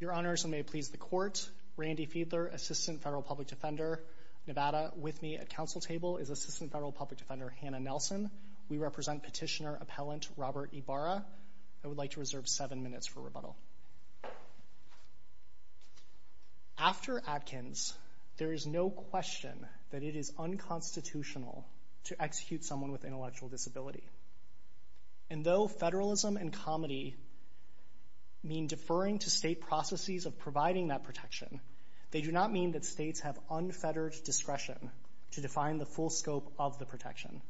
Your Honors, and may it please the Court, Randy Fiedler, Assistant Federal Public Defender, Nevada. With me at Council Table is Assistant Federal Public Defender Hannah Nelson. We represent Petitioner Appellant Robert Ybarra. After Atkins, there is no question that it is unconstitutional to execute someone with intellectual disability. And though federalism and comity mean deferring to state processes of providing that protection, they do not mean that states have unfettered discretion to define the full scope of the protection.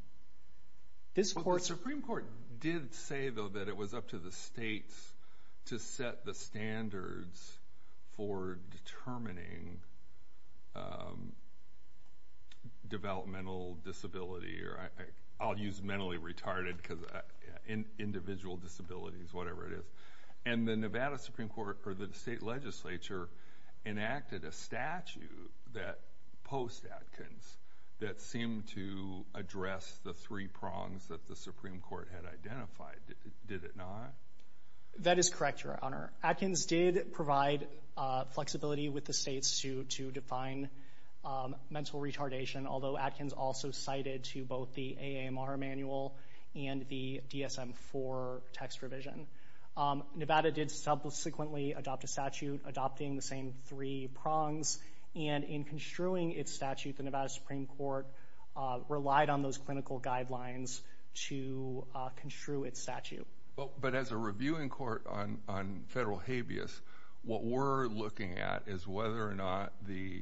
Well, the Supreme Court did say, though, that it was up to the states to set the standards for determining developmental disability, or I'll use mentally retarded, because individual disability is whatever it is. And the Nevada Supreme Court, or the state legislature, enacted a statute post-Atkins that seemed to address the three prongs that the Supreme Court had identified, did it not? That is correct, Your Honor. Atkins did provide flexibility with the states to define mental retardation, although Atkins also cited to both the AAMR manual and the DSM-IV text revision. Nevada did subsequently adopt a statute adopting the same three prongs, and in construing its statute, Nevada Supreme Court relied on those clinical guidelines to construe its statute. But as a reviewing court on federal habeas, what we're looking at is whether or not the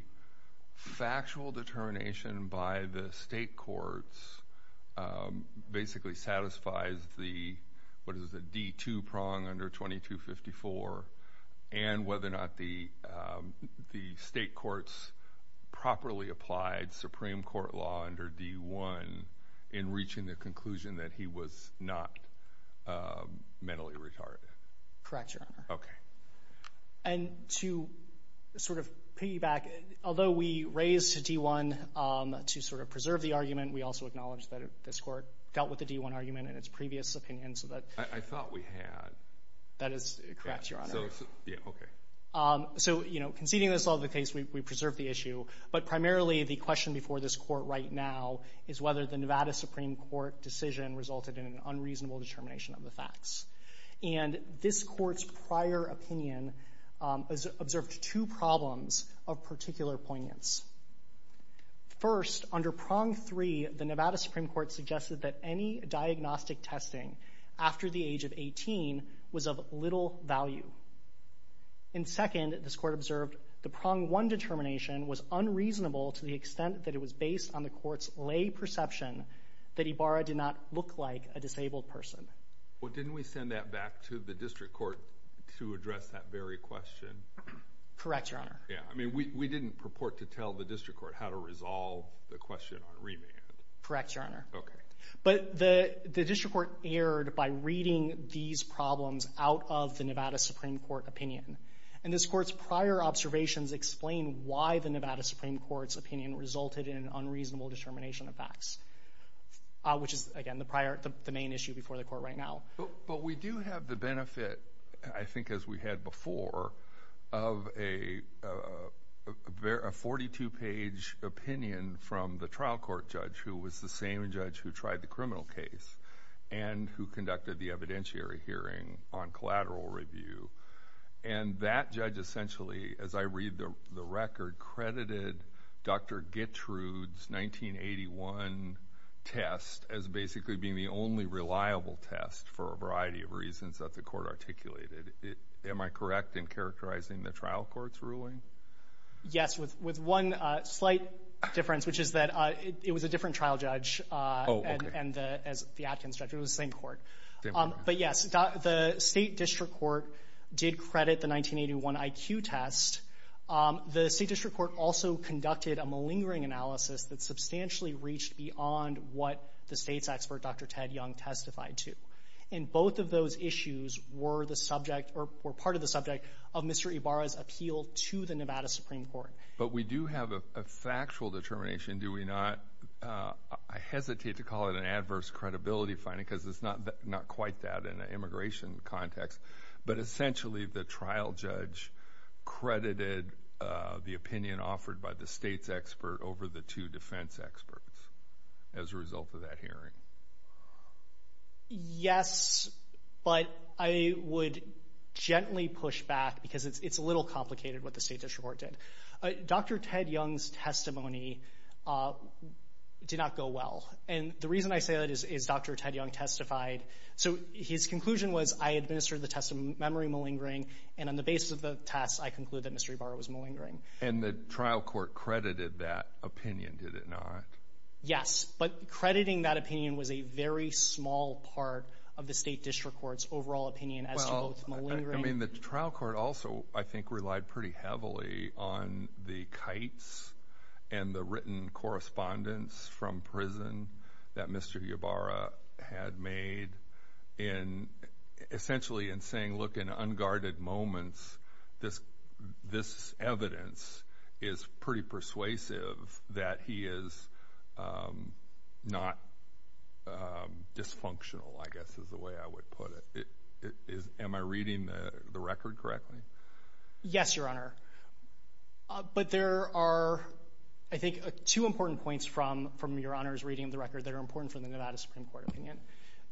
factual determination by the state courts basically satisfies the D2 prong under 2254, and whether or not the state courts properly applied Supreme Court law under D1 in reaching the conclusion that he was not mentally retarded. Correct, Your Honor. And to sort of piggyback, although we raised D1 to sort of preserve the argument, we also acknowledge that this court dealt with the D1 argument in its previous opinion, so that... I thought we had. That is correct, Your Honor. Yeah, okay. So, you know, conceding this law to the case, we preserved the issue, but primarily the question before this court right now is whether the Nevada Supreme Court decision resulted in an unreasonable determination of the facts. And this court's prior opinion observed two problems of particular poignance. First, under prong three, the Nevada Supreme Court suggested that any diagnostic testing after the age of 18 was of little value. And second, this court observed the prong one determination was unreasonable to the extent that it was based on the court's lay perception that Ibarra did not look like a disabled person. Well, didn't we send that back to the district court to address that very question? Correct, Your Honor. Yeah, I mean, we didn't purport to tell the district court how to resolve the question on remand. Correct, Your Honor. Okay. But the district court erred by reading these problems out of the Nevada Supreme Court opinion. And this court's prior observations explain why the Nevada Supreme Court's opinion resulted in an unreasonable determination of facts, which is, again, the main issue before the court right now. But we do have the benefit, I think as we had before, of a 42-page opinion from the criminal case and who conducted the evidentiary hearing on collateral review. And that judge essentially, as I read the record, credited Dr. Gittrud's 1981 test as basically being the only reliable test for a variety of reasons that the court articulated. Am I correct in characterizing the trial court's ruling? Yes. With one slight difference, which is that it was a different trial judge and the Atkins judge. It was the same court. But, yes, the state district court did credit the 1981 IQ test. The state district court also conducted a malingering analysis that substantially reached beyond what the state's expert, Dr. Ted Young, testified to. And both of those issues were the subject or were part of the subject of Mr. Ibarra's to the Nevada Supreme Court. But we do have a factual determination, do we not, I hesitate to call it an adverse credibility finding because it's not quite that in an immigration context. But essentially, the trial judge credited the opinion offered by the state's expert over the two defense experts as a result of that hearing. Yes, but I would gently push back because it's a little complicated what the state district court did. Dr. Ted Young's testimony did not go well. And the reason I say that is Dr. Ted Young testified. So his conclusion was, I administered the test of memory malingering, and on the basis of the test, I conclude that Mr. Ibarra was malingering. And the trial court credited that opinion, did it not? Yes. But crediting that opinion was a very small part of the state district court's overall opinion as to both malingering. Well, I mean, the trial court also, I think, relied pretty heavily on the kites and the written correspondence from prison that Mr. Ibarra had made in essentially in saying, look, in unguarded moments, this evidence is pretty persuasive that he is not dysfunctional, I guess, is the way I would put it. Am I reading the record correctly? Yes, Your Honor. But there are, I think, two important points from Your Honor's reading of the record that are important from the Nevada Supreme Court opinion.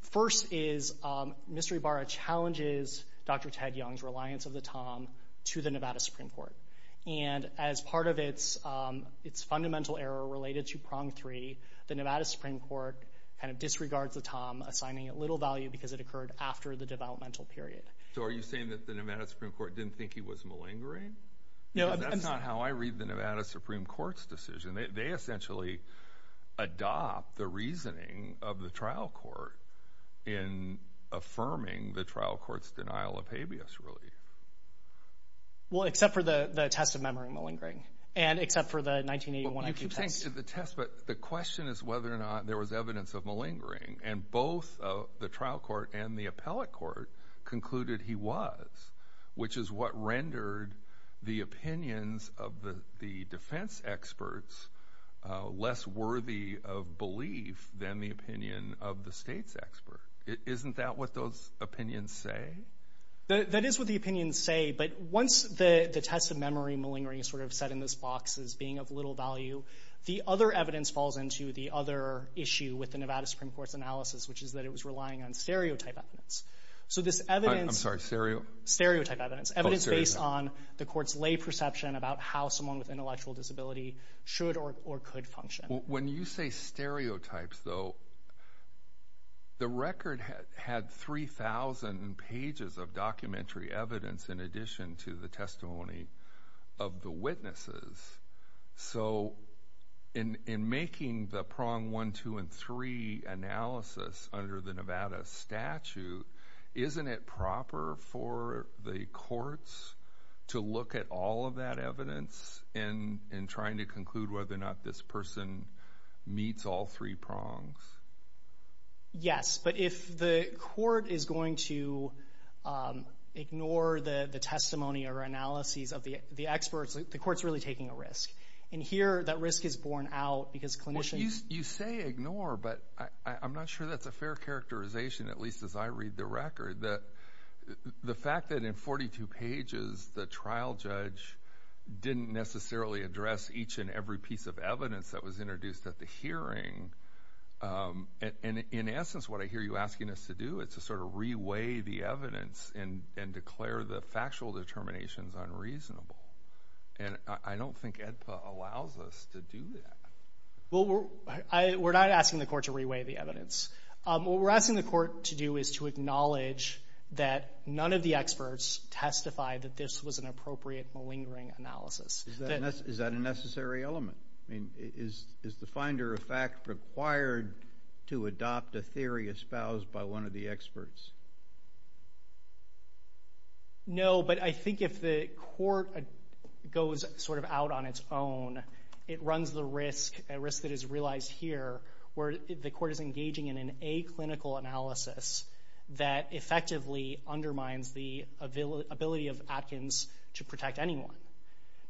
First is, Mr. Ibarra challenges Dr. Ted Young's reliance of the tom to the Nevada Supreme Court. And as part of its fundamental error related to prong three, the Nevada Supreme Court kind of disregards the tom, assigning it little value because it occurred after the developmental period. So are you saying that the Nevada Supreme Court didn't think he was malingering? No. Because that's not how I read the Nevada Supreme Court's decision. They essentially adopt the reasoning of the trial court in affirming the trial court's denial of habeas relief. Well, except for the test of memory malingering. And except for the 1981 IQ test. Well, you can think of the test, but the question is whether or not there was evidence of malingering. And both the trial court and the appellate court concluded he was, which is what rendered the opinions of the defense experts less worthy of belief than the opinion of the state's expert. Isn't that what those opinions say? That is what the opinions say, but once the test of memory malingering is sort of set in this box as being of little value, the other evidence falls into the other issue with the Nevada Supreme Court's analysis, which is that it was relying on stereotype evidence. So this evidence... I'm sorry, stereo? Stereotype evidence. Evidence based on the court's lay perception about how someone with intellectual disability should or could function. When you say stereotypes, though, the record had 3,000 pages of documentary evidence in addition to the testimony of the witnesses. So in making the prong one, two, and three analysis under the Nevada statute, isn't it more difficult for the courts to look at all of that evidence and trying to conclude whether or not this person meets all three prongs? Yes, but if the court is going to ignore the testimony or analyses of the experts, the court's really taking a risk. And here, that risk is borne out because clinicians... You say ignore, but I'm not sure that's a fair characterization, at least as I read the record. The fact that in 42 pages, the trial judge didn't necessarily address each and every piece of evidence that was introduced at the hearing, in essence, what I hear you asking us to do is to sort of re-weigh the evidence and declare the factual determinations unreasonable. And I don't think AEDPA allows us to do that. Well, we're not asking the court to re-weigh the evidence. What we're asking the court to do is to acknowledge that none of the experts testify that this was an appropriate, malingering analysis. Is that a necessary element? Is the finder of fact required to adopt a theory espoused by one of the experts? No, but I think if the court goes sort of out on its own, it runs the risk, a risk that is realized here, where the court is engaging in an aclinical analysis that effectively undermines the ability of Atkins to protect anyone.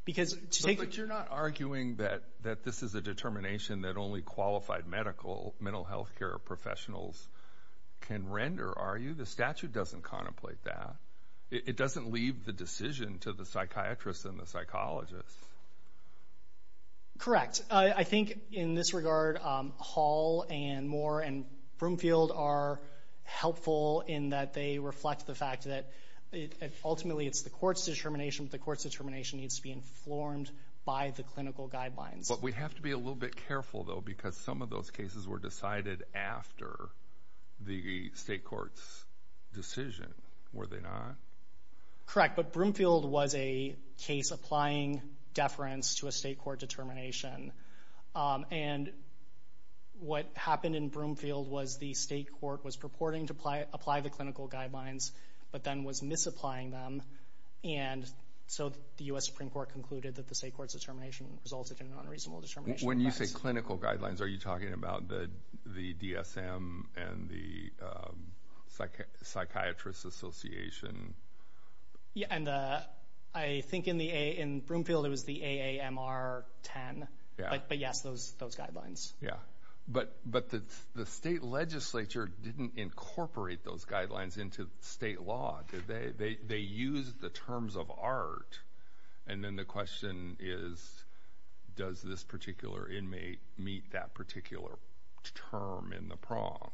Because to take... But you're not arguing that this is a determination that only qualified medical, mental health care professionals can render, are you? The statute doesn't contemplate that. It doesn't leave the decision to the psychiatrist and the psychologist. Correct. I think in this regard, Hall and Moore and Broomfield are helpful in that they reflect the fact that ultimately it's the court's determination, but the court's determination needs to be informed by the clinical guidelines. But we have to be a little bit careful, though, because some of those cases were decided after the state court's decision, were they not? Correct. But Broomfield was a case applying deference to a state court determination, and what happened in Broomfield was the state court was purporting to apply the clinical guidelines, but then was misapplying them, and so the U.S. Supreme Court concluded that the state court's determination resulted in an unreasonable determination. When you say clinical guidelines, are you talking about the DSM and the Psychiatrist Association? Yeah, and I think in Broomfield it was the AAMR-10, but yes, those guidelines. But the state legislature didn't incorporate those guidelines into state law, did they? They used the terms of art, and then the question is, does this particular inmate meet that particular term in the prong?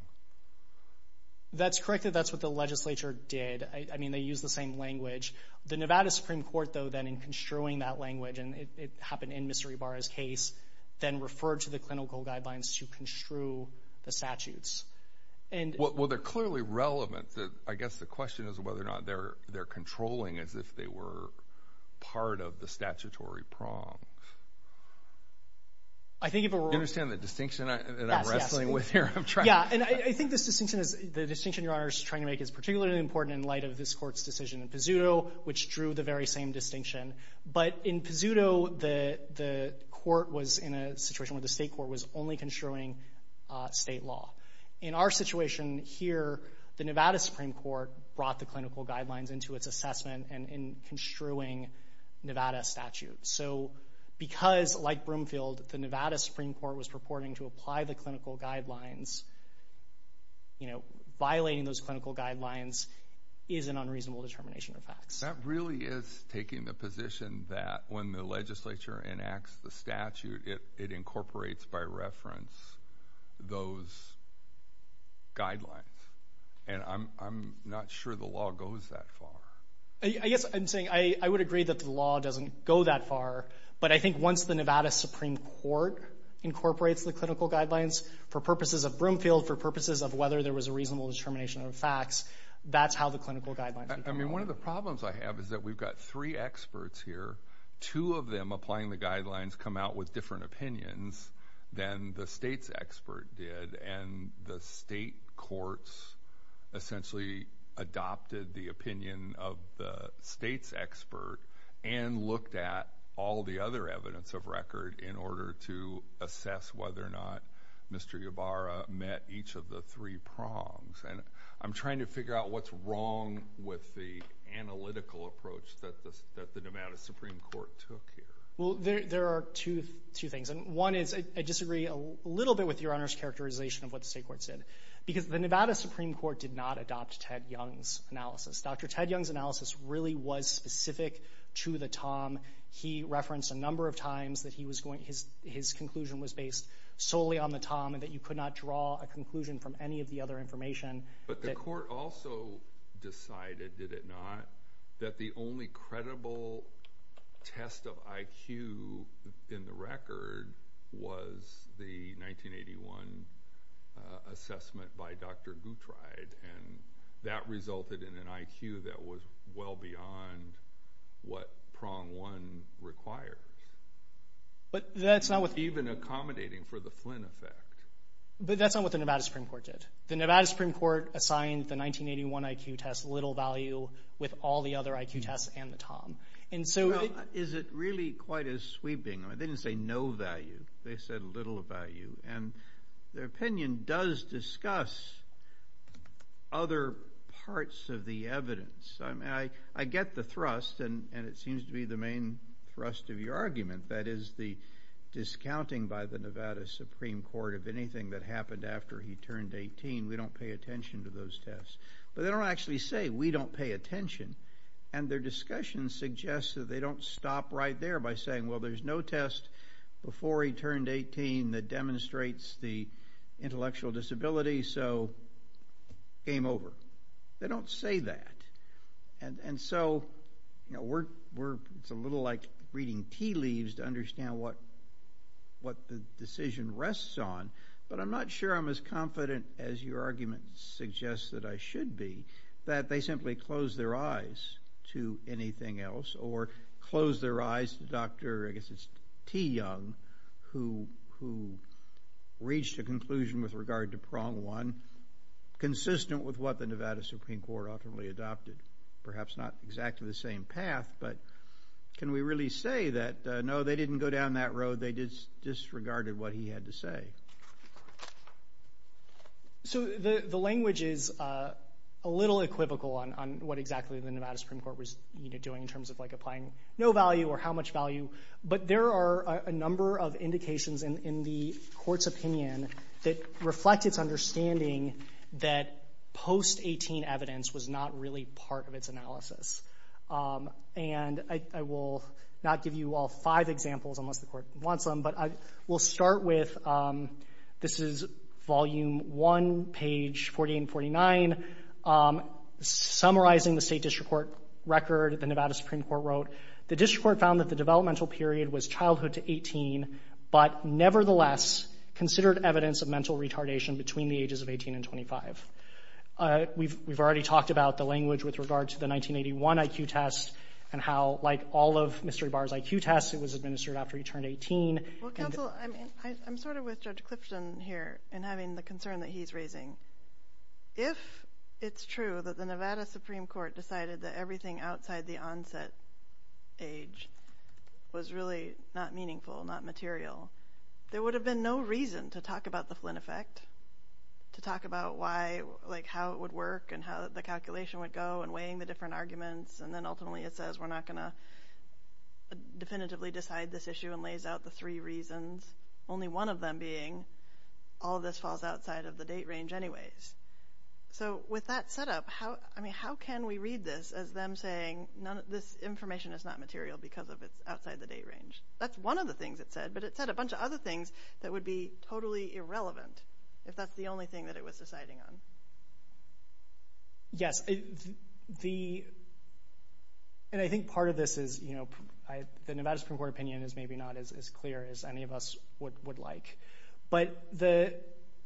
That's correct. That's what the legislature did. I mean, they used the same language. The Nevada Supreme Court, though, then, in construing that language, and it happened in Mr. Ibarra's case, then referred to the clinical guidelines to construe the statutes. Well, they're clearly relevant. I guess the question is whether or not they're controlling as if they were part of the statutory prong. Do you understand the distinction that I'm wrestling with here? Yes, yes. Yeah, and I think this distinction, the distinction Your Honor is trying to make, is particularly important in light of this court's decision in Pizzuto, which drew the very same distinction. But in Pizzuto, the court was in a situation where the state court was only construing state law. In our situation here, the Nevada Supreme Court brought the clinical guidelines into its assessment and in construing Nevada statutes. So because, like Broomfield, the Nevada Supreme Court was purporting to apply the clinical guidelines is an unreasonable determination of facts. That really is taking the position that when the legislature enacts the statute, it incorporates by reference those guidelines. And I'm not sure the law goes that far. I guess I'm saying I would agree that the law doesn't go that far, but I think once the Nevada Supreme Court incorporates the clinical guidelines for purposes of Broomfield, for purposes of whether there was a reasonable determination of facts, that's how the clinical guidelines would go. I mean, one of the problems I have is that we've got three experts here. Two of them applying the guidelines come out with different opinions than the state's expert did. And the state courts essentially adopted the opinion of the state's expert and looked at all the other evidence of record in order to assess whether or not Mr. Ybarra met each of the three prongs. And I'm trying to figure out what's wrong with the analytical approach that the Nevada Supreme Court took here. Well, there are two things, and one is I disagree a little bit with Your Honor's characterization of what the state courts did, because the Nevada Supreme Court did not adopt Ted Young's analysis. Dr. Ted Young's analysis really was specific to the time. He referenced a number of times that his conclusion was based solely on the time and that you could not draw a conclusion from any of the other information. But the court also decided, did it not, that the only credible test of IQ in the record was the 1981 assessment by Dr. Guttreid, and that resulted in an IQ that was well beyond what prong one requires, even accommodating for the Flynn effect. But that's not what the Nevada Supreme Court did. The Nevada Supreme Court assigned the 1981 IQ test little value with all the other IQ tests and the TOM. Well, is it really quite as sweeping? They didn't say no value. They said little value. And their opinion does discuss other parts of the evidence. I get the thrust, and it seems to be the main thrust of your argument, that is, the discounting by the Nevada Supreme Court of anything that happened after he turned 18. We don't pay attention to those tests. But they don't actually say, we don't pay attention. And their discussion suggests that they don't stop right there by saying, well, there's no test before he turned 18 that demonstrates the intellectual disability, so game over. They don't say that. And so it's a little like reading tea leaves to understand what the decision rests on. But I'm not sure I'm as confident as your argument suggests that I should be that they simply close their eyes to anything else or close their eyes to Dr. T. Young, who reached a conclusion with regard to prong one consistent with what the Nevada Supreme Court ultimately adopted. Perhaps not exactly the same path, but can we really say that, no, they didn't go down that road. They disregarded what he had to say. So the language is a little equivocal on what exactly the Nevada Supreme Court was doing in terms of applying no value or how much value. But there are a number of indications in the court's opinion that reflect its understanding that post-18 evidence was not really part of its analysis. And I will not give you all five examples, unless the court wants them. But we'll start with, this is volume one, page 48 and 49, summarizing the state district court record the Nevada Supreme Court wrote. The district court found that the developmental period was childhood to 18, but nevertheless considered evidence of mental retardation between the ages of 18 and 25. We've already talked about the language with regard to the 1981 IQ test and how, like all of Mr. Ybarra's IQ tests, it was administered after he turned 18. Well, counsel, I'm sort of with Judge Clifton here in having the concern that he's raising. If it's true that the Nevada Supreme Court decided that everything outside the onset age was really not meaningful, not material, there would have been no reason to talk about the Flynn effect, to talk about why, like how it would work and how the calculation would go and weighing the different arguments, and then ultimately it says we're not going to definitively decide this issue and lays out the three reasons, only one of them being all of this falls outside of the date range anyways. So with that set up, how can we read this as them saying this information is not material because of it's outside the date range? That's one of the things it said, but it said a bunch of other things that would be totally irrelevant if that's the only thing that it was deciding on. Yes, the, and I think part of this is, you know, the Nevada Supreme Court opinion is maybe not as clear as any of us would like, but the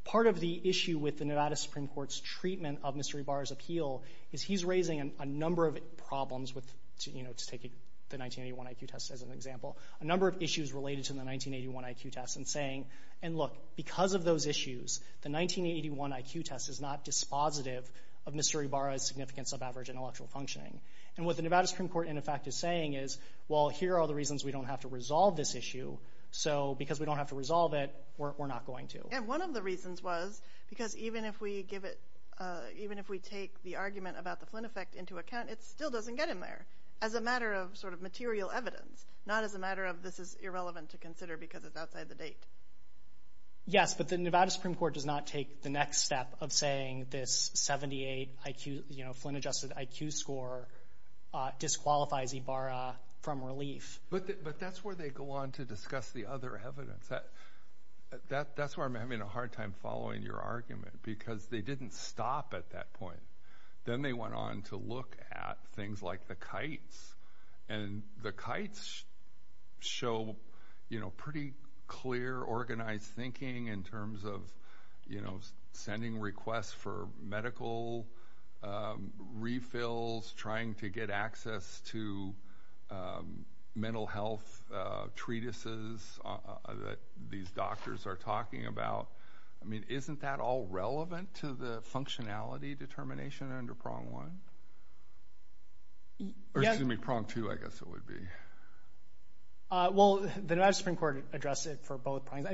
part of the issue with the Nevada Supreme Court's treatment of Mr. Ibarra's appeal is he's raising a number of problems with, you know, to take the 1981 IQ test as an example, a number of issues related to the 1981 IQ test and saying, and look, because of those issues, the 1981 IQ test is not dispositive of Mr. Ibarra's significance of average intellectual functioning. And what the Nevada Supreme Court, in effect, is saying is, well, here are the reasons we don't have to resolve this issue, so because we don't have to resolve it, we're not going to. And one of the reasons was because even if we give it, even if we take the argument about the Flynn effect into account, it still doesn't get in there as a matter of sort of material evidence, not as a matter of this is irrelevant to consider because it's outside the date. Yes, but the Nevada Supreme Court does not take the next step of saying this 78 IQ, you know, Flynn adjusted IQ score disqualifies Ibarra from relief. But that's where they go on to discuss the other evidence. That's where I'm having a hard time following your argument because they didn't stop at that point. Then they went on to look at things like the kites, and the kites show, you know, pretty clear organized thinking in terms of, you know, sending requests for medical refills, trying to get access to mental health treatises that these doctors are talking about. I mean, isn't that all relevant to the functionality determination under Prong 1? Or excuse me, Prong 2, I guess it would be. Well, the Nevada Supreme Court addressed it for both Prongs.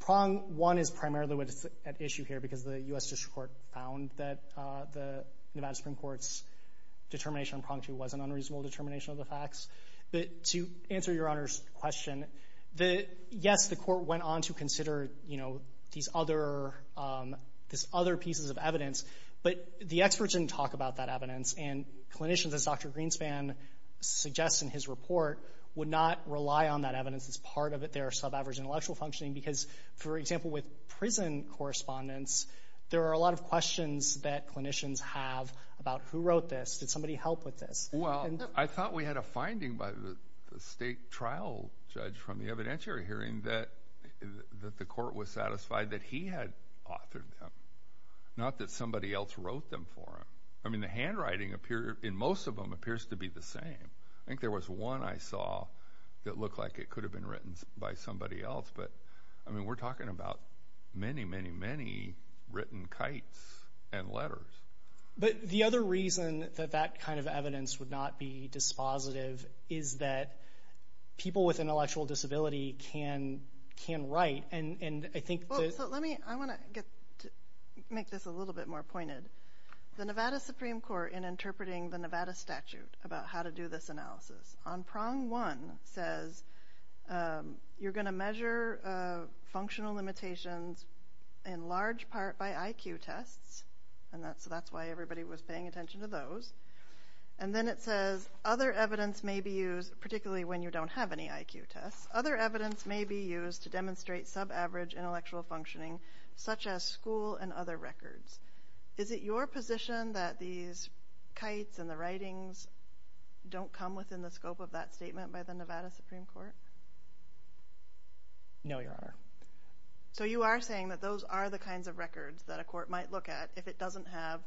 Prong 1 is primarily at issue here because the U.S. District Court found that the Nevada Supreme Court's determination on Prong 2 was an unreasonable determination of the facts. But to answer your Honor's question, yes, the court went on to consider, you know, these other pieces of evidence, but the experts didn't talk about that evidence. And clinicians, as Dr. Greenspan suggests in his report, would not rely on that evidence as part of their subaverage intellectual functioning because, for example, with prison correspondents, there are a lot of questions that clinicians have about who wrote this, did somebody help with this. Well, I thought we had a finding by the state trial judge from the evidentiary hearing that the court was satisfied that he had authored them, not that somebody else wrote them for him. I mean, the handwriting in most of them appears to be the same. I think there was one I saw that looked like it could have been written by somebody else, but, I mean, we're talking about many, many, many written kites and letters. But the other reason that that kind of evidence would not be dispositive is that people with intellectual disability can write, and I think that... Well, so let me, I want to make this a little bit more pointed. The Nevada Supreme Court, in interpreting the Nevada statute about how to do this analysis, on prong one says, you're going to measure functional limitations in large part by IQ tests, and that's why everybody was paying attention to those. And then it says, other evidence may be used, particularly when you don't have any IQ tests, other evidence may be used to demonstrate subaverage intellectual functioning, such as school and other records. Is it your position that these kites and the writings don't come within the scope of that statement by the Nevada Supreme Court? No, Your Honor. So you are saying that those are the kinds of records that a court might look at if it doesn't have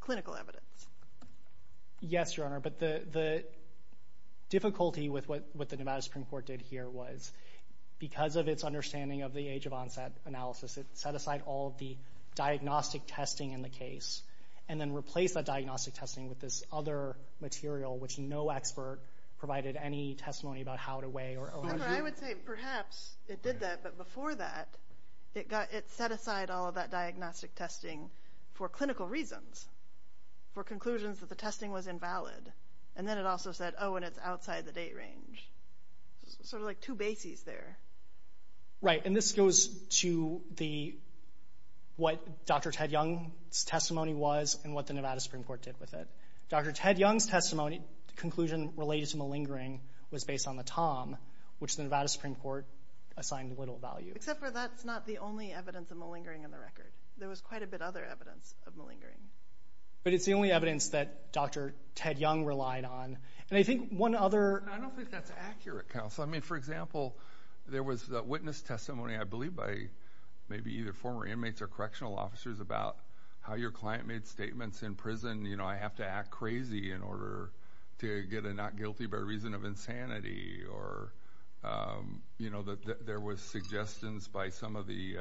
clinical evidence? Yes, Your Honor, but the difficulty with what the Nevada Supreme Court did here was, because of its understanding of the age of onset analysis, it set aside all of the diagnostic testing in the case, and then replaced that diagnostic testing with this other material, which no expert provided any testimony about how to weigh or... Your Honor, I would say perhaps it did that, but before that, it set aside all of that diagnostic testing for clinical reasons, for conclusions that the testing was invalid. And then it also said, oh, and it's outside the date range. Sort of like two bases there. Right, and this goes to what Dr. Ted Young's testimony was and what the Nevada Supreme Court did with it. Dr. Ted Young's conclusion related to malingering was based on the TOM, which the Nevada Supreme Court assigned little value. Except for that's not the only evidence of malingering in the record. There was quite a bit other evidence of malingering. But it's the only evidence that Dr. Ted Young relied on. And I think one other... I don't think that's accurate, counsel. I mean, for example, there was a witness testimony, I believe by maybe either former inmates or correctional officers, about how your client made statements in prison, you know, I have to act crazy in order to get a not guilty by reason of insanity. Or, you know, there was suggestions by some of the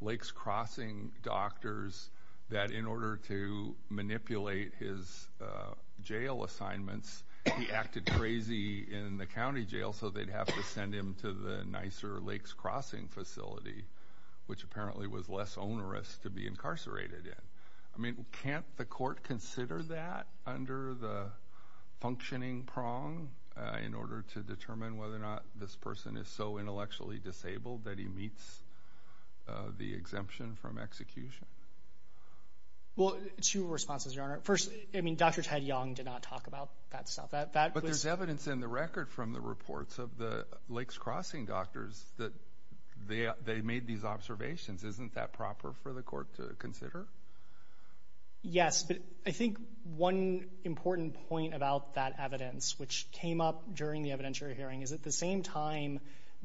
Lakes Crossing doctors that in order to manipulate his jail assignments, he acted crazy in the county jail, so they'd have to send him to the nicer Lakes Crossing facility, which apparently was less onerous to be incarcerated in. I mean, can't the court consider that under the functioning prong in order to determine whether or not this person is so intellectually disabled that he meets the exemption from execution? Well, two responses, Your Honor. First, I mean, Dr. Ted Young did not talk about that stuff. But there's evidence in the record from the reports of the Lakes Crossing doctors that they made these observations. Isn't that proper for the court to consider? Yes, but I think one important point about that evidence, which came up during the evidentiary hearing, is at the same time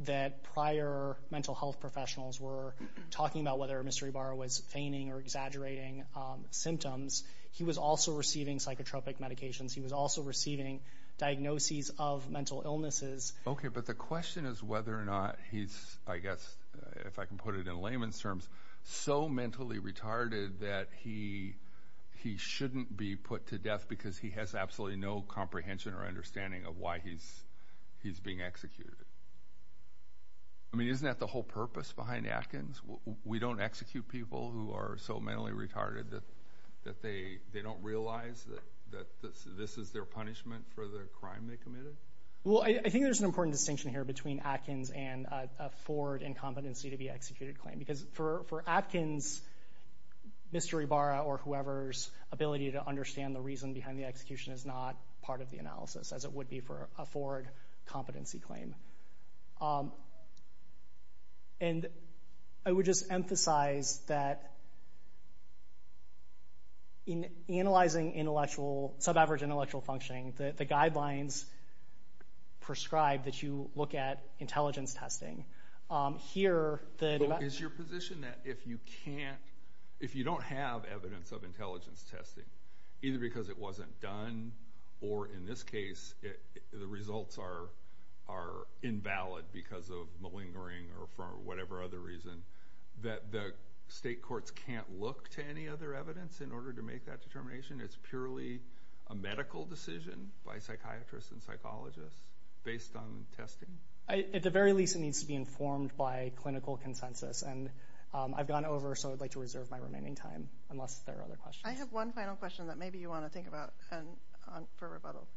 that prior mental health professionals were talking about whether Mr. Ibarra was feigning or exaggerating symptoms, he was also receiving psychotropic medications. He was also receiving diagnoses of mental illnesses. Okay, but the question is whether or not he's, I guess, if I can put it in layman's terms, so mentally retarded that he shouldn't be put to death because he has absolutely no comprehension or understanding of why he's being executed. I mean, isn't that the whole purpose behind Atkins? We don't execute people who are so mentally retarded that they don't realize that this is their punishment for the crime they committed? Well, I think there's an important distinction here between Atkins and a forward incompetency to be executed claim. Because for Atkins, Mr. Ibarra or whoever's ability to understand the reason behind the execution is not part of the analysis, as it would be for a forward competency claim. And I would just emphasize that in analyzing intellectual, sub-average intellectual functioning, the guidelines prescribed that you look at intelligence testing, here the... Is your position that if you can't, if you don't have evidence of intelligence testing, either because it wasn't done or in this case, the results are invalid because of malingering or for whatever other reason, that the state courts can't look to any other evidence in order to make that determination? It's purely a medical decision by psychiatrists and psychologists based on testing? At the very least, it needs to be informed by clinical consensus. And I've gone over, so I'd like to reserve my remaining time, unless there are other questions. I have one final question that maybe you want to think about and for rebuttal.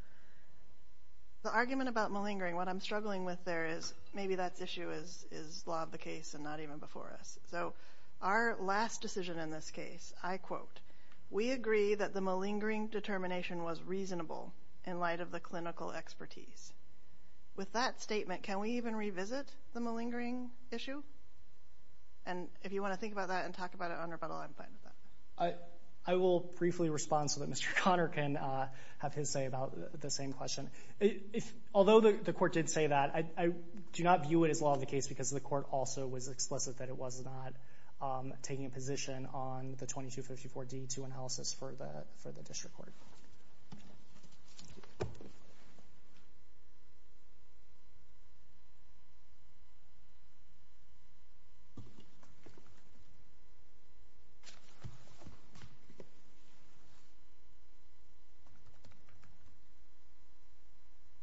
The argument about malingering, what I'm struggling with there is, maybe that issue is law of the case and not even before us. So our last decision in this case, I quote, we agree that the malingering determination was reasonable in light of the clinical expertise. With that statement, can we even revisit the malingering issue? And if you want to think about that and talk about it on rebuttal, I'm fine with that. I will briefly respond so that Mr. Connor can have his say about the same question. Although the court did say that, I do not view it as law of the case because the court also was explicit that it was not taking a position on the 2254-D2 analysis for the district court.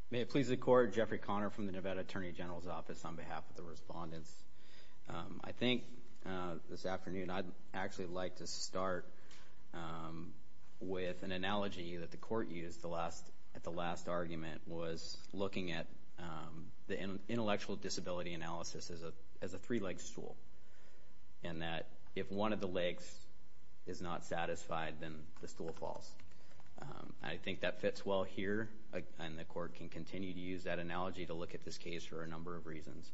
May it please the court, Jeffrey Connor from the Nevada Attorney General's Office on behalf of the respondents. I think this afternoon, I'd actually like to start with an analogy that the court used at the last argument was looking at the intellectual disability analysis as a three-legged stool. And that if one of the legs is not satisfied, then the stool falls. I think that fits well here, and the court can continue to use that analogy to look at this case for a number of reasons.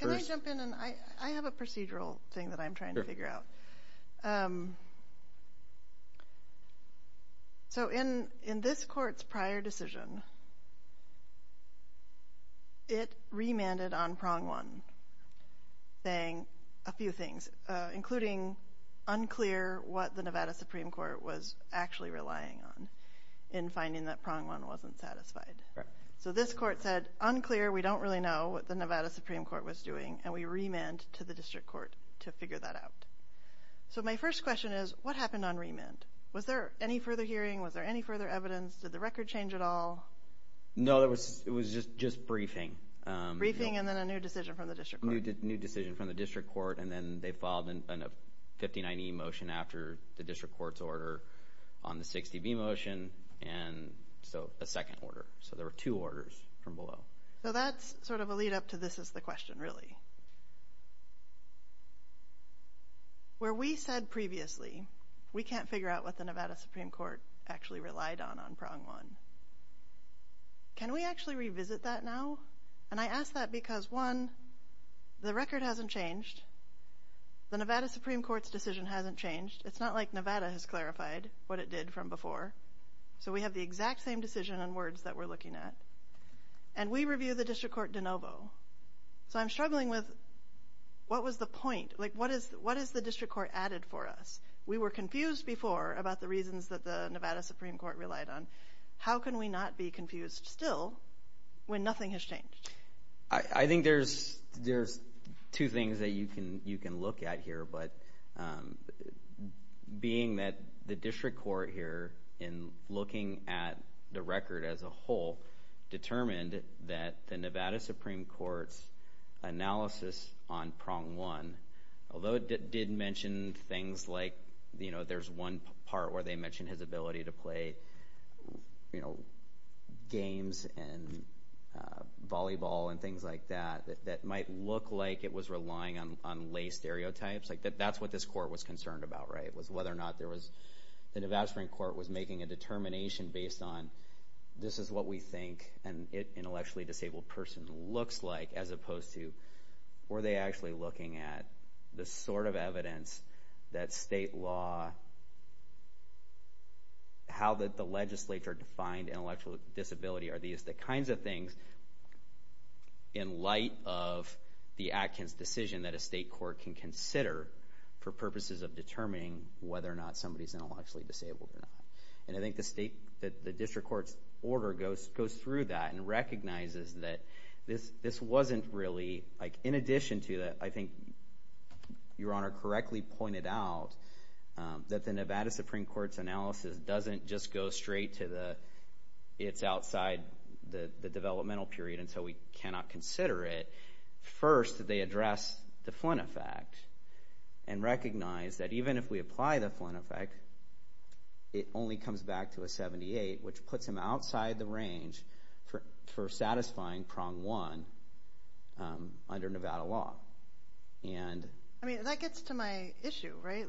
Can I jump in? I have a procedural thing that I'm trying to figure out. So in this court's prior decision, it remanded on prong one, saying a few things, including unclear what the Nevada Supreme Court was actually relying on in finding that prong one wasn't satisfied. So this court said, unclear, we don't really know what the Nevada Supreme Court was doing, and we remand to the district court to figure that out. So my first question is, what happened on remand? Was there any further hearing? Was there any further evidence? Did the record change at all? No, it was just briefing. Briefing and then a new decision from the district court. New decision from the district court, and then they filed a 59E motion after the district court's order on the 60B motion, and so a second order. So there were two orders from below. So that's sort of a lead-up to this is the question, really. Where we said previously, we can't figure out what the Nevada Supreme Court actually relied on on prong one. Can we actually revisit that now? And I ask that because, one, the record hasn't changed. The Nevada Supreme Court's decision hasn't changed. It's not like Nevada has clarified what it did from before. So we have the exact same decision and words that we're looking at, and we review the district court de novo. So I'm struggling with, what was the point? What has the district court added for us? We were confused before about the reasons that the Nevada Supreme Court relied on. How can we not be confused still when nothing has changed? I think there's two things that you can look at here, but being that the district court here, in looking at the record as a whole, determined that the Nevada Supreme Court's analysis on prong one, although it did mention things like, you know, that there's one part where they mentioned his ability to play, you know, games and volleyball and things like that, that might look like it was relying on lay stereotypes. Like, that's what this court was concerned about, right, was whether or not there was... The Nevada Supreme Court was making a determination based on, this is what we think an intellectually disabled person looks like, as opposed to, were they actually looking at the sort of evidence that state law, how the legislature defined intellectual disability, are these the kinds of things, in light of the Atkins decision that a state court can consider for purposes of determining whether or not somebody's intellectually disabled or not. And I think the district court's order goes through that and recognizes that this wasn't really... I think Your Honor correctly pointed out that the Nevada Supreme Court's analysis doesn't just go straight to the, it's outside the developmental period until we cannot consider it. First, they address the Flynn effect and recognize that even if we apply the Flynn effect, it only comes back to a 78, which puts him outside the range for satisfying prong one under Nevada law. I mean, that gets to my issue, right?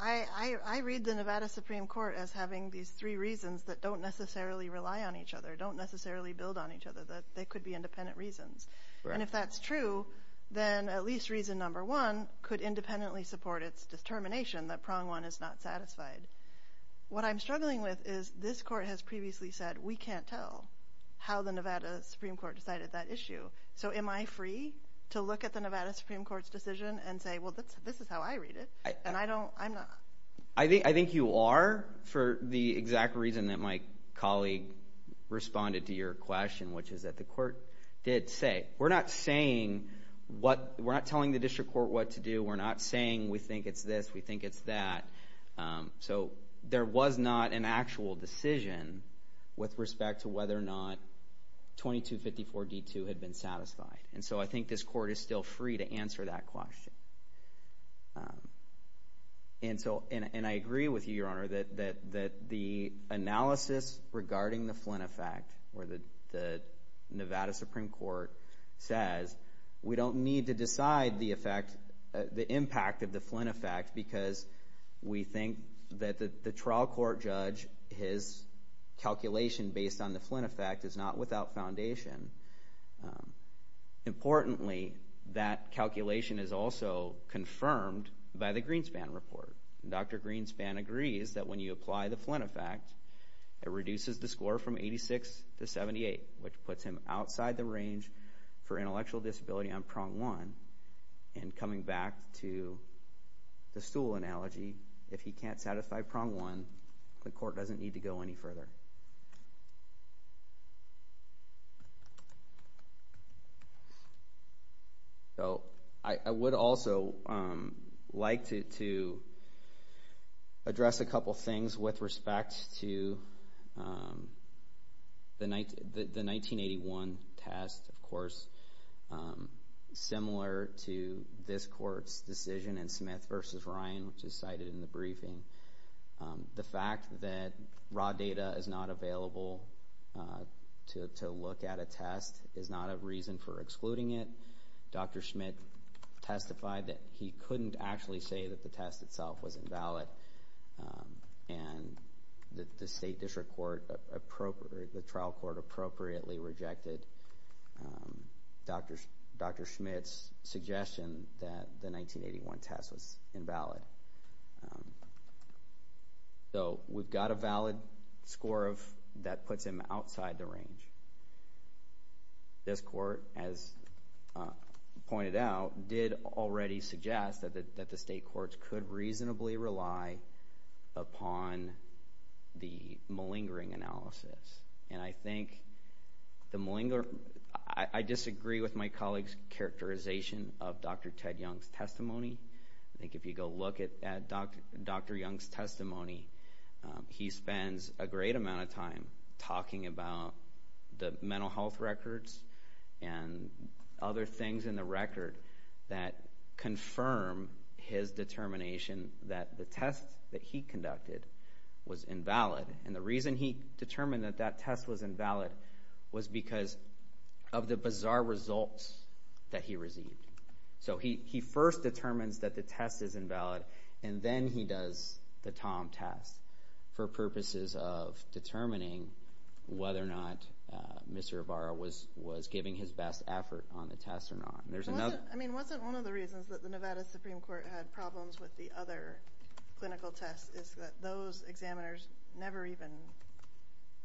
I read the Nevada Supreme Court as having these three reasons that don't necessarily rely on each other, don't necessarily build on each other, that they could be independent reasons. And if that's true, then at least reason number one could independently support its determination that prong one is not satisfied. What I'm struggling with is this court has previously said we can't tell how the Nevada Supreme Court decided that issue. So am I free to look at the Nevada Supreme Court's decision and say, well, this is how I read it, and I don't, I'm not... I think you are for the exact reason that my colleague responded to your question, which is that the court did say, we're not saying what, we're not telling the district court what to do, we're not saying we think it's this, we think it's that. So there was not an actual decision with respect to whether or not 2254-D2 had been satisfied. And so I think this court is still free to answer that question. And so, and I agree with you, Your Honor, that the analysis regarding the Flynn effect, where the Nevada Supreme Court says we don't need to decide the effect, the impact of the Flynn effect, because we think that the trial court judge, his calculation based on the Flynn effect is not without foundation. Importantly, that calculation is also confirmed by the Greenspan report. Dr. Greenspan agrees that when you apply the Flynn effect, it reduces the score from 86 to 78, which puts him outside the range for intellectual disability on prong one, and coming back to the Stuhl analogy, if he can't satisfy prong one, the court doesn't need to go any further. So I would also like to address a couple things similar to this court's decision in Smith v. Ryan, which is cited in the briefing. The fact that raw data is not available to look at a test is not a reason for excluding it. Dr. Smith testified that he couldn't actually say that the test itself was invalid, and the state district court, the trial court appropriately rejected Dr. Smith's suggestion that the 1981 test was invalid. So we've got a valid score that puts him outside the range. This court, as pointed out, did already suggest that the state courts could reasonably rely upon the malingering analysis, and I think the malingering... I disagree with my colleague's characterization of Dr. Ted Young's testimony. I think if you go look at Dr. Young's testimony, he spends a great amount of time talking about the mental health records and other things in the record that confirm his determination that the test that he conducted was invalid, and the reason he determined that that test was invalid was because of the bizarre results that he received. So he first determines that the test is invalid, and then he does the Tom test for purposes of determining whether or not Mr. Ibarra was giving his best effort on the test or not. I mean, wasn't one of the reasons that the Nevada Supreme Court had problems with the other clinical tests is that those examiners never even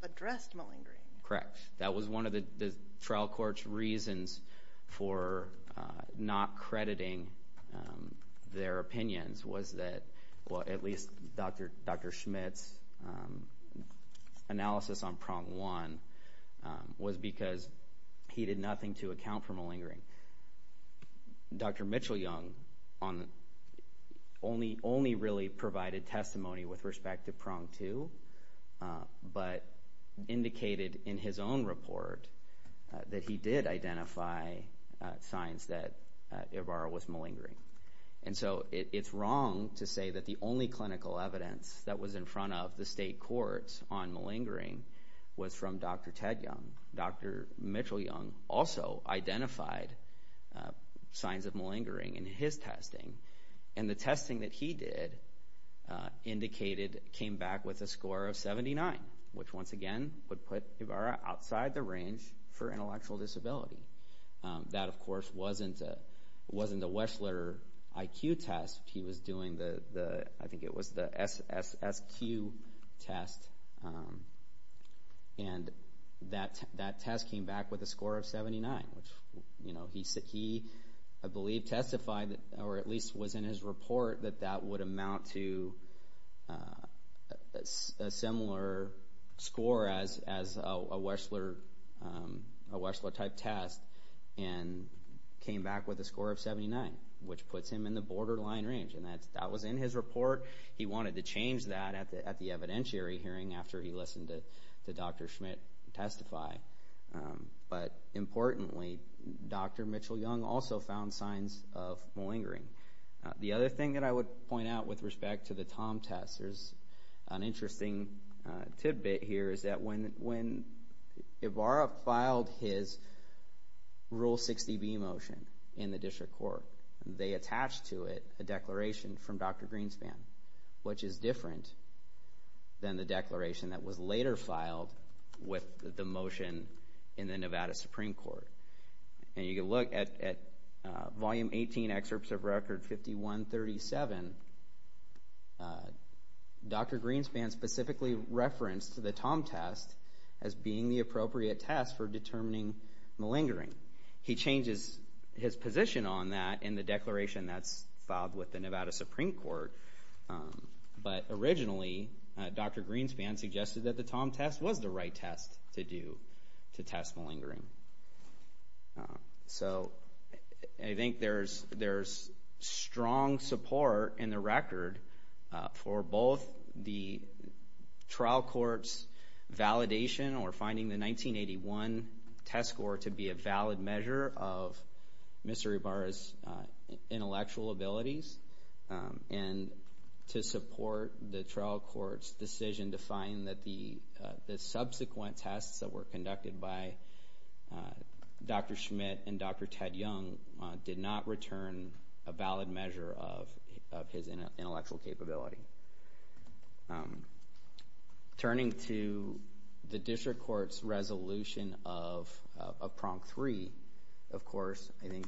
addressed malingering? Correct. That was one of the trial court's reasons for not crediting their opinions was that, well, at least Dr. Schmitt's analysis on prong one was because he did nothing to account for malingering. Dr. Mitchell-Young only really provided testimony with respect to prong two, but indicated in his own report that he did identify signs that Ibarra was malingering. And so it's wrong to say that the only clinical evidence that was in front of the state courts on malingering was from Dr. Ted Young. Dr. Mitchell-Young also identified signs of malingering in his testing, and the testing that he did indicated came back with a score of 79, which once again would put Ibarra outside the range for intellectual disability. That, of course, wasn't a Weschler IQ test. He was doing the, I think it was the SSQ test, and that test came back with a score of 79, which he, I believe, testified, or at least was in his report, that that would amount to a similar score as a Weschler-type test, and came back with a score of 79, which puts him in the borderline range. And that was in his report. He wanted to change that at the evidentiary hearing after he listened to Dr. Schmidt testify. But importantly, Dr. Mitchell-Young also found signs of malingering. The other thing that I would point out with respect to the Tom test, there's an interesting tidbit here, is that when Ibarra filed his Rule 60B motion in the district court, they attached to it a declaration from Dr. Greenspan, which is different than the declaration that was later filed with the motion in the Nevada Supreme Court. And you can look at Volume 18, Excerpts of Record 5137. Dr. Greenspan specifically referenced the Tom test as being the appropriate test for determining malingering. He changes his position on that in the declaration that's filed with the Nevada Supreme Court. But originally, Dr. Greenspan suggested that the Tom test was the right test to do to test malingering. So I think there's strong support in the record for both the trial court's validation or finding the 1981 test score to be a valid measure of Mr. Ibarra's intellectual abilities and to support the trial court's decision to find that the subsequent tests that were conducted by Dr. Schmidt and Dr. Ted Young did not return a valid measure of his intellectual capability. Turning to the district court's resolution of Prong 3, of course, I think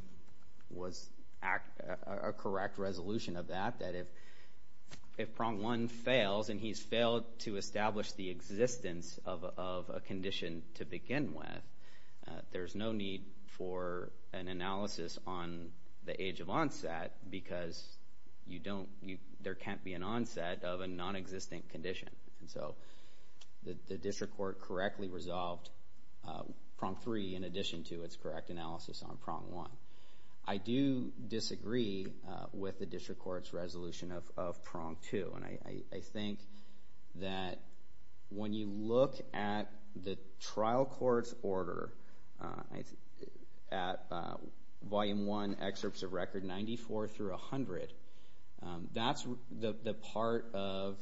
was a correct resolution of that, that if Prong 1 fails, and he's failed to establish the existence of a condition to begin with, there's no need for an analysis on the age of onset because there can't be an onset of a nonexistent condition. So the district court correctly resolved Prong 3 in addition to its correct analysis on Prong 1. I do disagree with the district court's resolution of Prong 2, and I think that when you look at the trial court's order at Volume 1, Excerpts of Record 94 through 100, that's the part of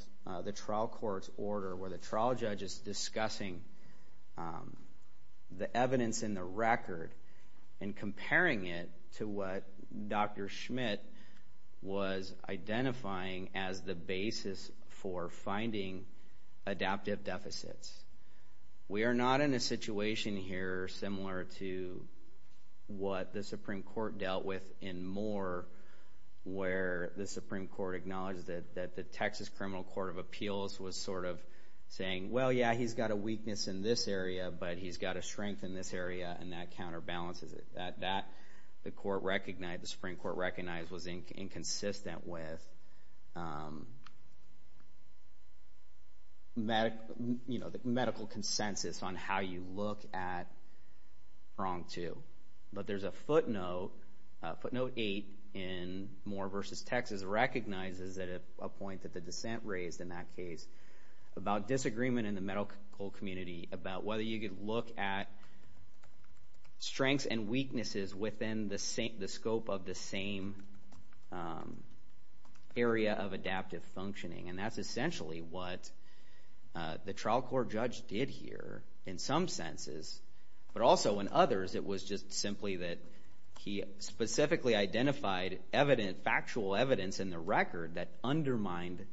the trial court's order where the trial judge is discussing the evidence in the record and comparing it to what Dr. Schmidt was identifying as the basis for finding adaptive deficits. We are not in a situation here similar to what the Supreme Court dealt with in Moore where the Supreme Court acknowledged that the Texas Criminal Court of Appeals was sort of saying, well, yeah, he's got a weakness in this area, but he's got a strength in this area, and that counterbalances it. That, the Supreme Court recognized, was inconsistent with the medical consensus on how you look at Prong 2. But there's a footnote, footnote 8 in Moore v. Texas, recognizes a point that the dissent raised in that case about disagreement in the medical community about whether you could look at strengths and weaknesses within the scope of the same area of adaptive functioning, and that's essentially what the trial court judge did here in some senses, but also in others, it was just simply that he specifically identified factual evidence in the record that undermined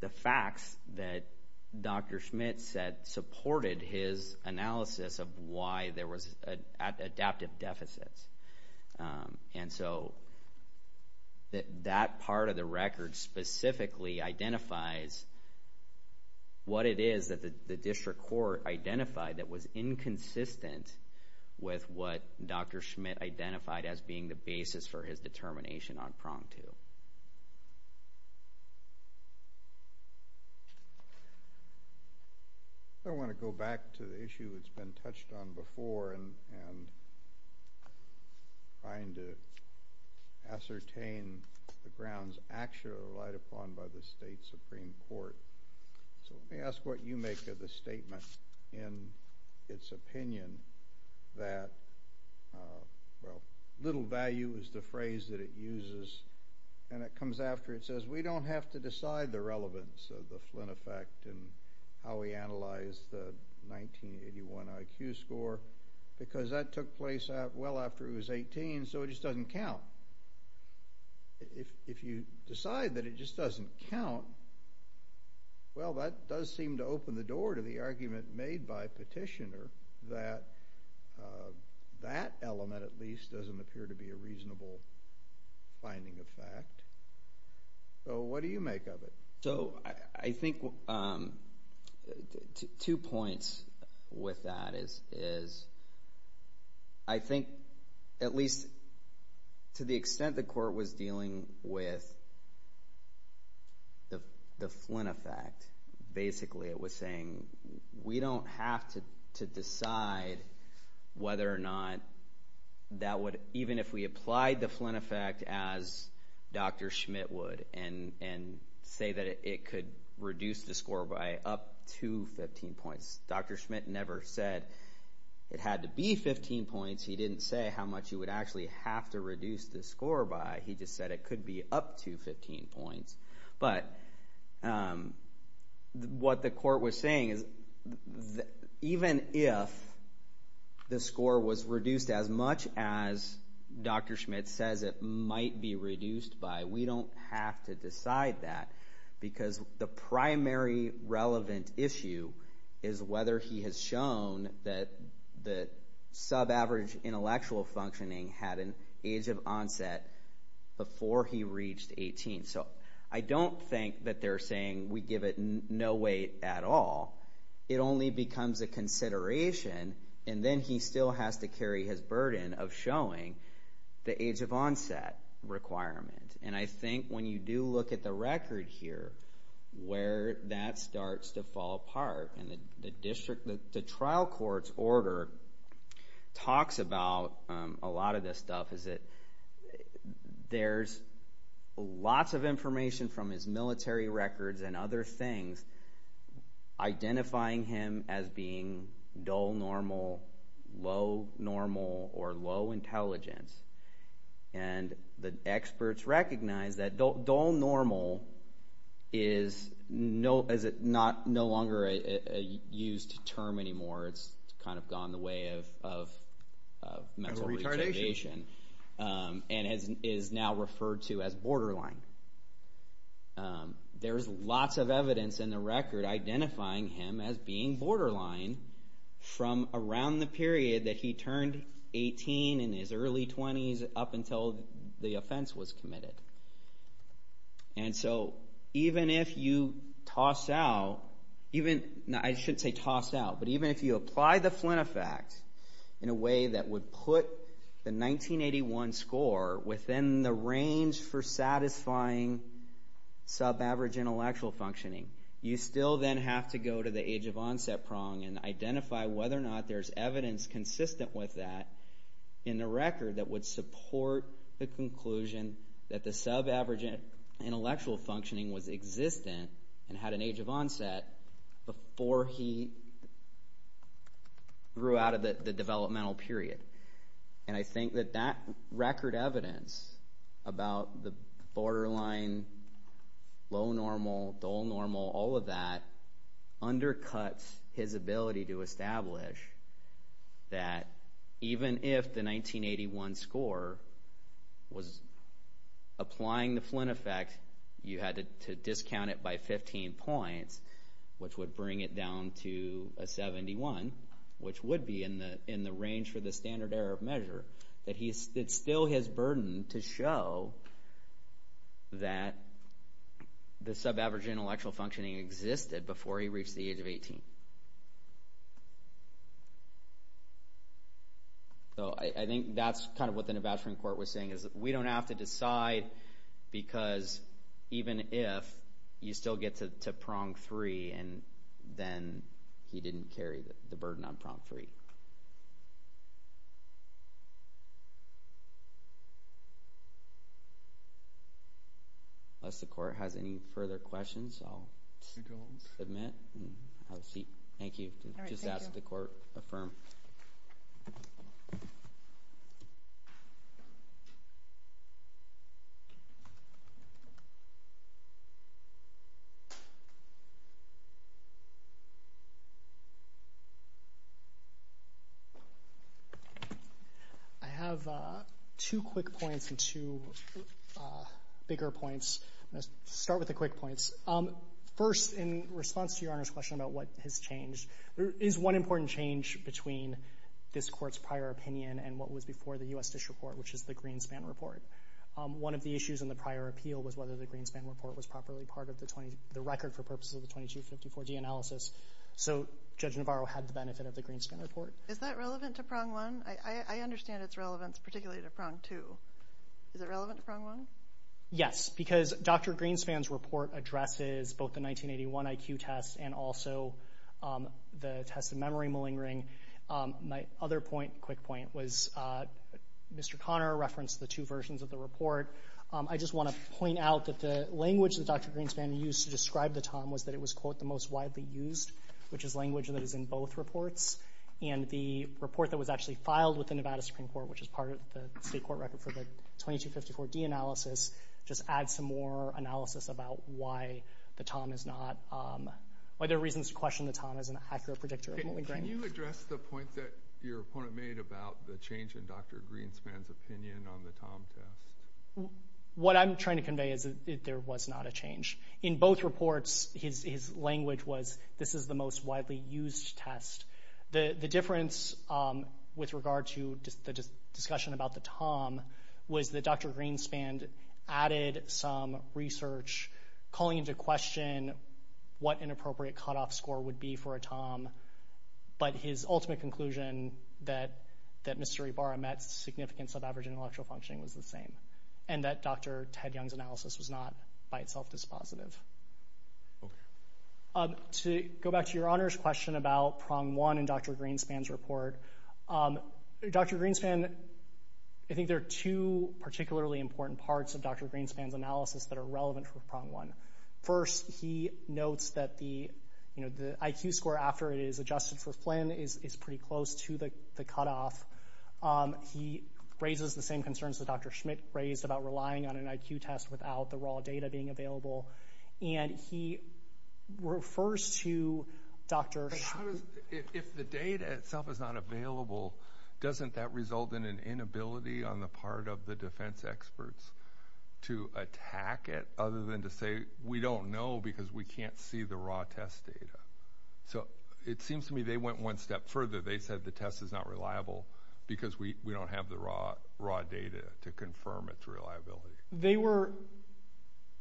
the facts that Dr. Schmidt said supported his analysis of why there was adaptive deficits. And so that part of the record specifically identifies what it is that the district court identified that was inconsistent with what Dr. Schmidt identified as being the basis for his determination on Prong 2. I want to go back to the issue that's been touched on before and trying to ascertain the grounds actually relied upon by the state Supreme Court. So let me ask what you make of the statement in its opinion that, well, little value is the phrase that it uses, and it comes after it says we don't have to decide the relevance of the Flynn effect and how we analyze the 1981 IQ score because that took place well after he was 18, so it just doesn't count. If you decide that it just doesn't count, well, that does seem to open the door to the argument made by Petitioner that that element, at least, doesn't appear to be a reasonable finding of fact. So what do you make of it? So I think two points with that is I think at least to the extent the court was dealing with the Flynn effect, basically it was saying we don't have to decide whether or not that would, even if we applied the Flynn effect as Dr. Schmidt would and say that it could reduce the score by up to 15 points. Dr. Schmidt never said it had to be 15 points. He didn't say how much you would actually have to reduce the score by. He just said it could be up to 15 points. But what the court was saying is even if the score was reduced as much as Dr. Schmidt says it might be reduced by, we don't have to decide that because the primary relevant issue is whether he has shown that the sub-average intellectual functioning had an age of onset before he reached 18. So I don't think that they're saying we give it no weight at all. It only becomes a consideration, and then he still has to carry his burden of showing the age of onset requirement. And I think when you do look at the record here, where that starts to fall apart, and the trial court's order talks about a lot of this stuff, there's lots of information from his military records and other things identifying him as being dull normal, low normal, or low intelligence. And the experts recognize that dull normal is no longer a used term anymore. It's kind of gone the way of mental retardation and is now referred to as borderline. There's lots of evidence in the record identifying him as being borderline from around the period that he turned 18 in his early 20s up until the offense was committed. And so even if you apply the Flynn effect in a way that would put the 1981 score within the range for satisfying sub-average intellectual functioning, you still then have to go to the age of onset prong and identify whether or not there's evidence consistent with that in the record that would support the conclusion that the sub-average intellectual functioning was existent and had an age of onset before he grew out of the developmental period. And I think that that record evidence about the borderline, low normal, dull normal, all of that undercuts his ability to establish that even if the 1981 score was applying the Flynn effect, you had to discount it by 15 points, which would bring it down to a 71, which would be in the range for the standard error of measure, that it's still his burden to show that the sub-average intellectual functioning existed before he reached the age of 18. So I think that's kind of what the navigation court was saying, is that we don't have to decide because even if you still get to prong 3 and then he didn't carry the burden on prong 3. Unless the court has any further questions, I'll submit and have a seat. Thank you. Just ask the court to affirm. Thank you. I have two quick points and two bigger points. I'm going to start with the quick points. First, in response to Your Honor's question about what has changed, there is one important change between this court's prior opinion and what was before the U.S. DISH report, which is the Greenspan report. One of the issues in the prior appeal was whether the Greenspan report was properly part of the record for purposes of the 2254D analysis. So Judge Navarro had the benefit of the Greenspan report. Is that relevant to prong 1? I understand its relevance, particularly to prong 2. Is it relevant to prong 1? Yes, because Dr. Greenspan's report addresses both the 1981 IQ test and also the test of memory malingering. My other quick point was Mr. Conner referenced the two versions of the report. I just want to point out that the language that Dr. Greenspan used to describe the TOM was that it was, quote, the most widely used, which is language that is in both reports. And the report that was actually filed with the Nevada Supreme Court, which is part of the state court record for the 2254D analysis, just adds some more analysis about why the TOM is not, why there are reasons to question the TOM as an accurate predictor of malingering. Can you address the point that your opponent made about the change in Dr. Greenspan's opinion on the TOM test? What I'm trying to convey is that there was not a change. In both reports, his language was this is the most widely used test. The difference with regard to the discussion about the TOM was that Dr. Greenspan added some research calling into question what an appropriate cutoff score would be for a TOM, but his ultimate conclusion that Mr. Ibarra met significance of average intellectual functioning was the same and that Dr. Ted Young's analysis was not by itself dispositive. To go back to your Honor's question about prong one in Dr. Greenspan's report, Dr. Greenspan, I think there are two particularly important parts of Dr. Greenspan's analysis that are relevant for prong one. First, he notes that the IQ score after it is adjusted for Flynn is pretty close to the cutoff. He raises the same concerns that Dr. Schmidt raised about relying on an IQ test without the raw data being available, and he refers to Dr. Schmidt. If the data itself is not available, doesn't that result in an inability on the part of the defense experts to attack it other than to say we don't know because we can't see the raw test data? It seems to me they went one step further. They said the test is not reliable because we don't have the raw data to confirm its reliability. They were,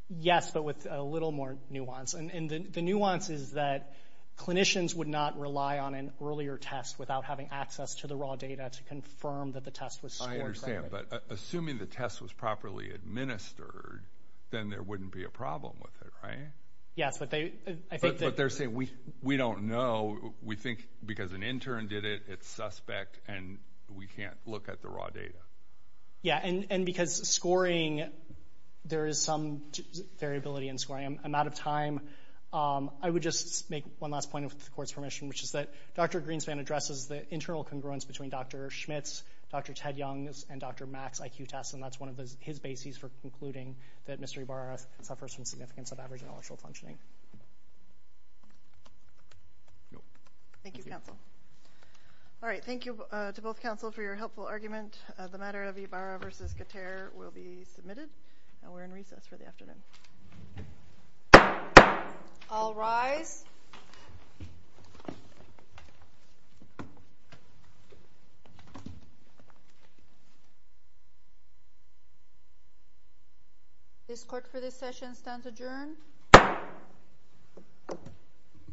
yes, but with a little more nuance. The nuance is that clinicians would not rely on an earlier test without having access to the raw data to confirm that the test was scored. I understand, but assuming the test was properly administered, then there wouldn't be a problem with it, right? Yes, but they're saying we don't know. We think because an intern did it, it's suspect, and we can't look at the raw data. Yes, and because scoring, there is some variability in scoring. I'm out of time. I would just make one last point with the Court's permission, which is that Dr. Greenspan addresses the internal congruence between Dr. Schmidt's, Dr. Ted Young's, and Dr. Mack's IQ tests, and that's one of his bases for concluding that Mr. Ibarra suffers from significance of average intellectual functioning. Thank you, counsel. All right, thank you to both counsel for your helpful argument. The matter of Ibarra v. Gutierrez will be submitted, and we're in recess for the afternoon. All rise. This Court for this session stands adjourned.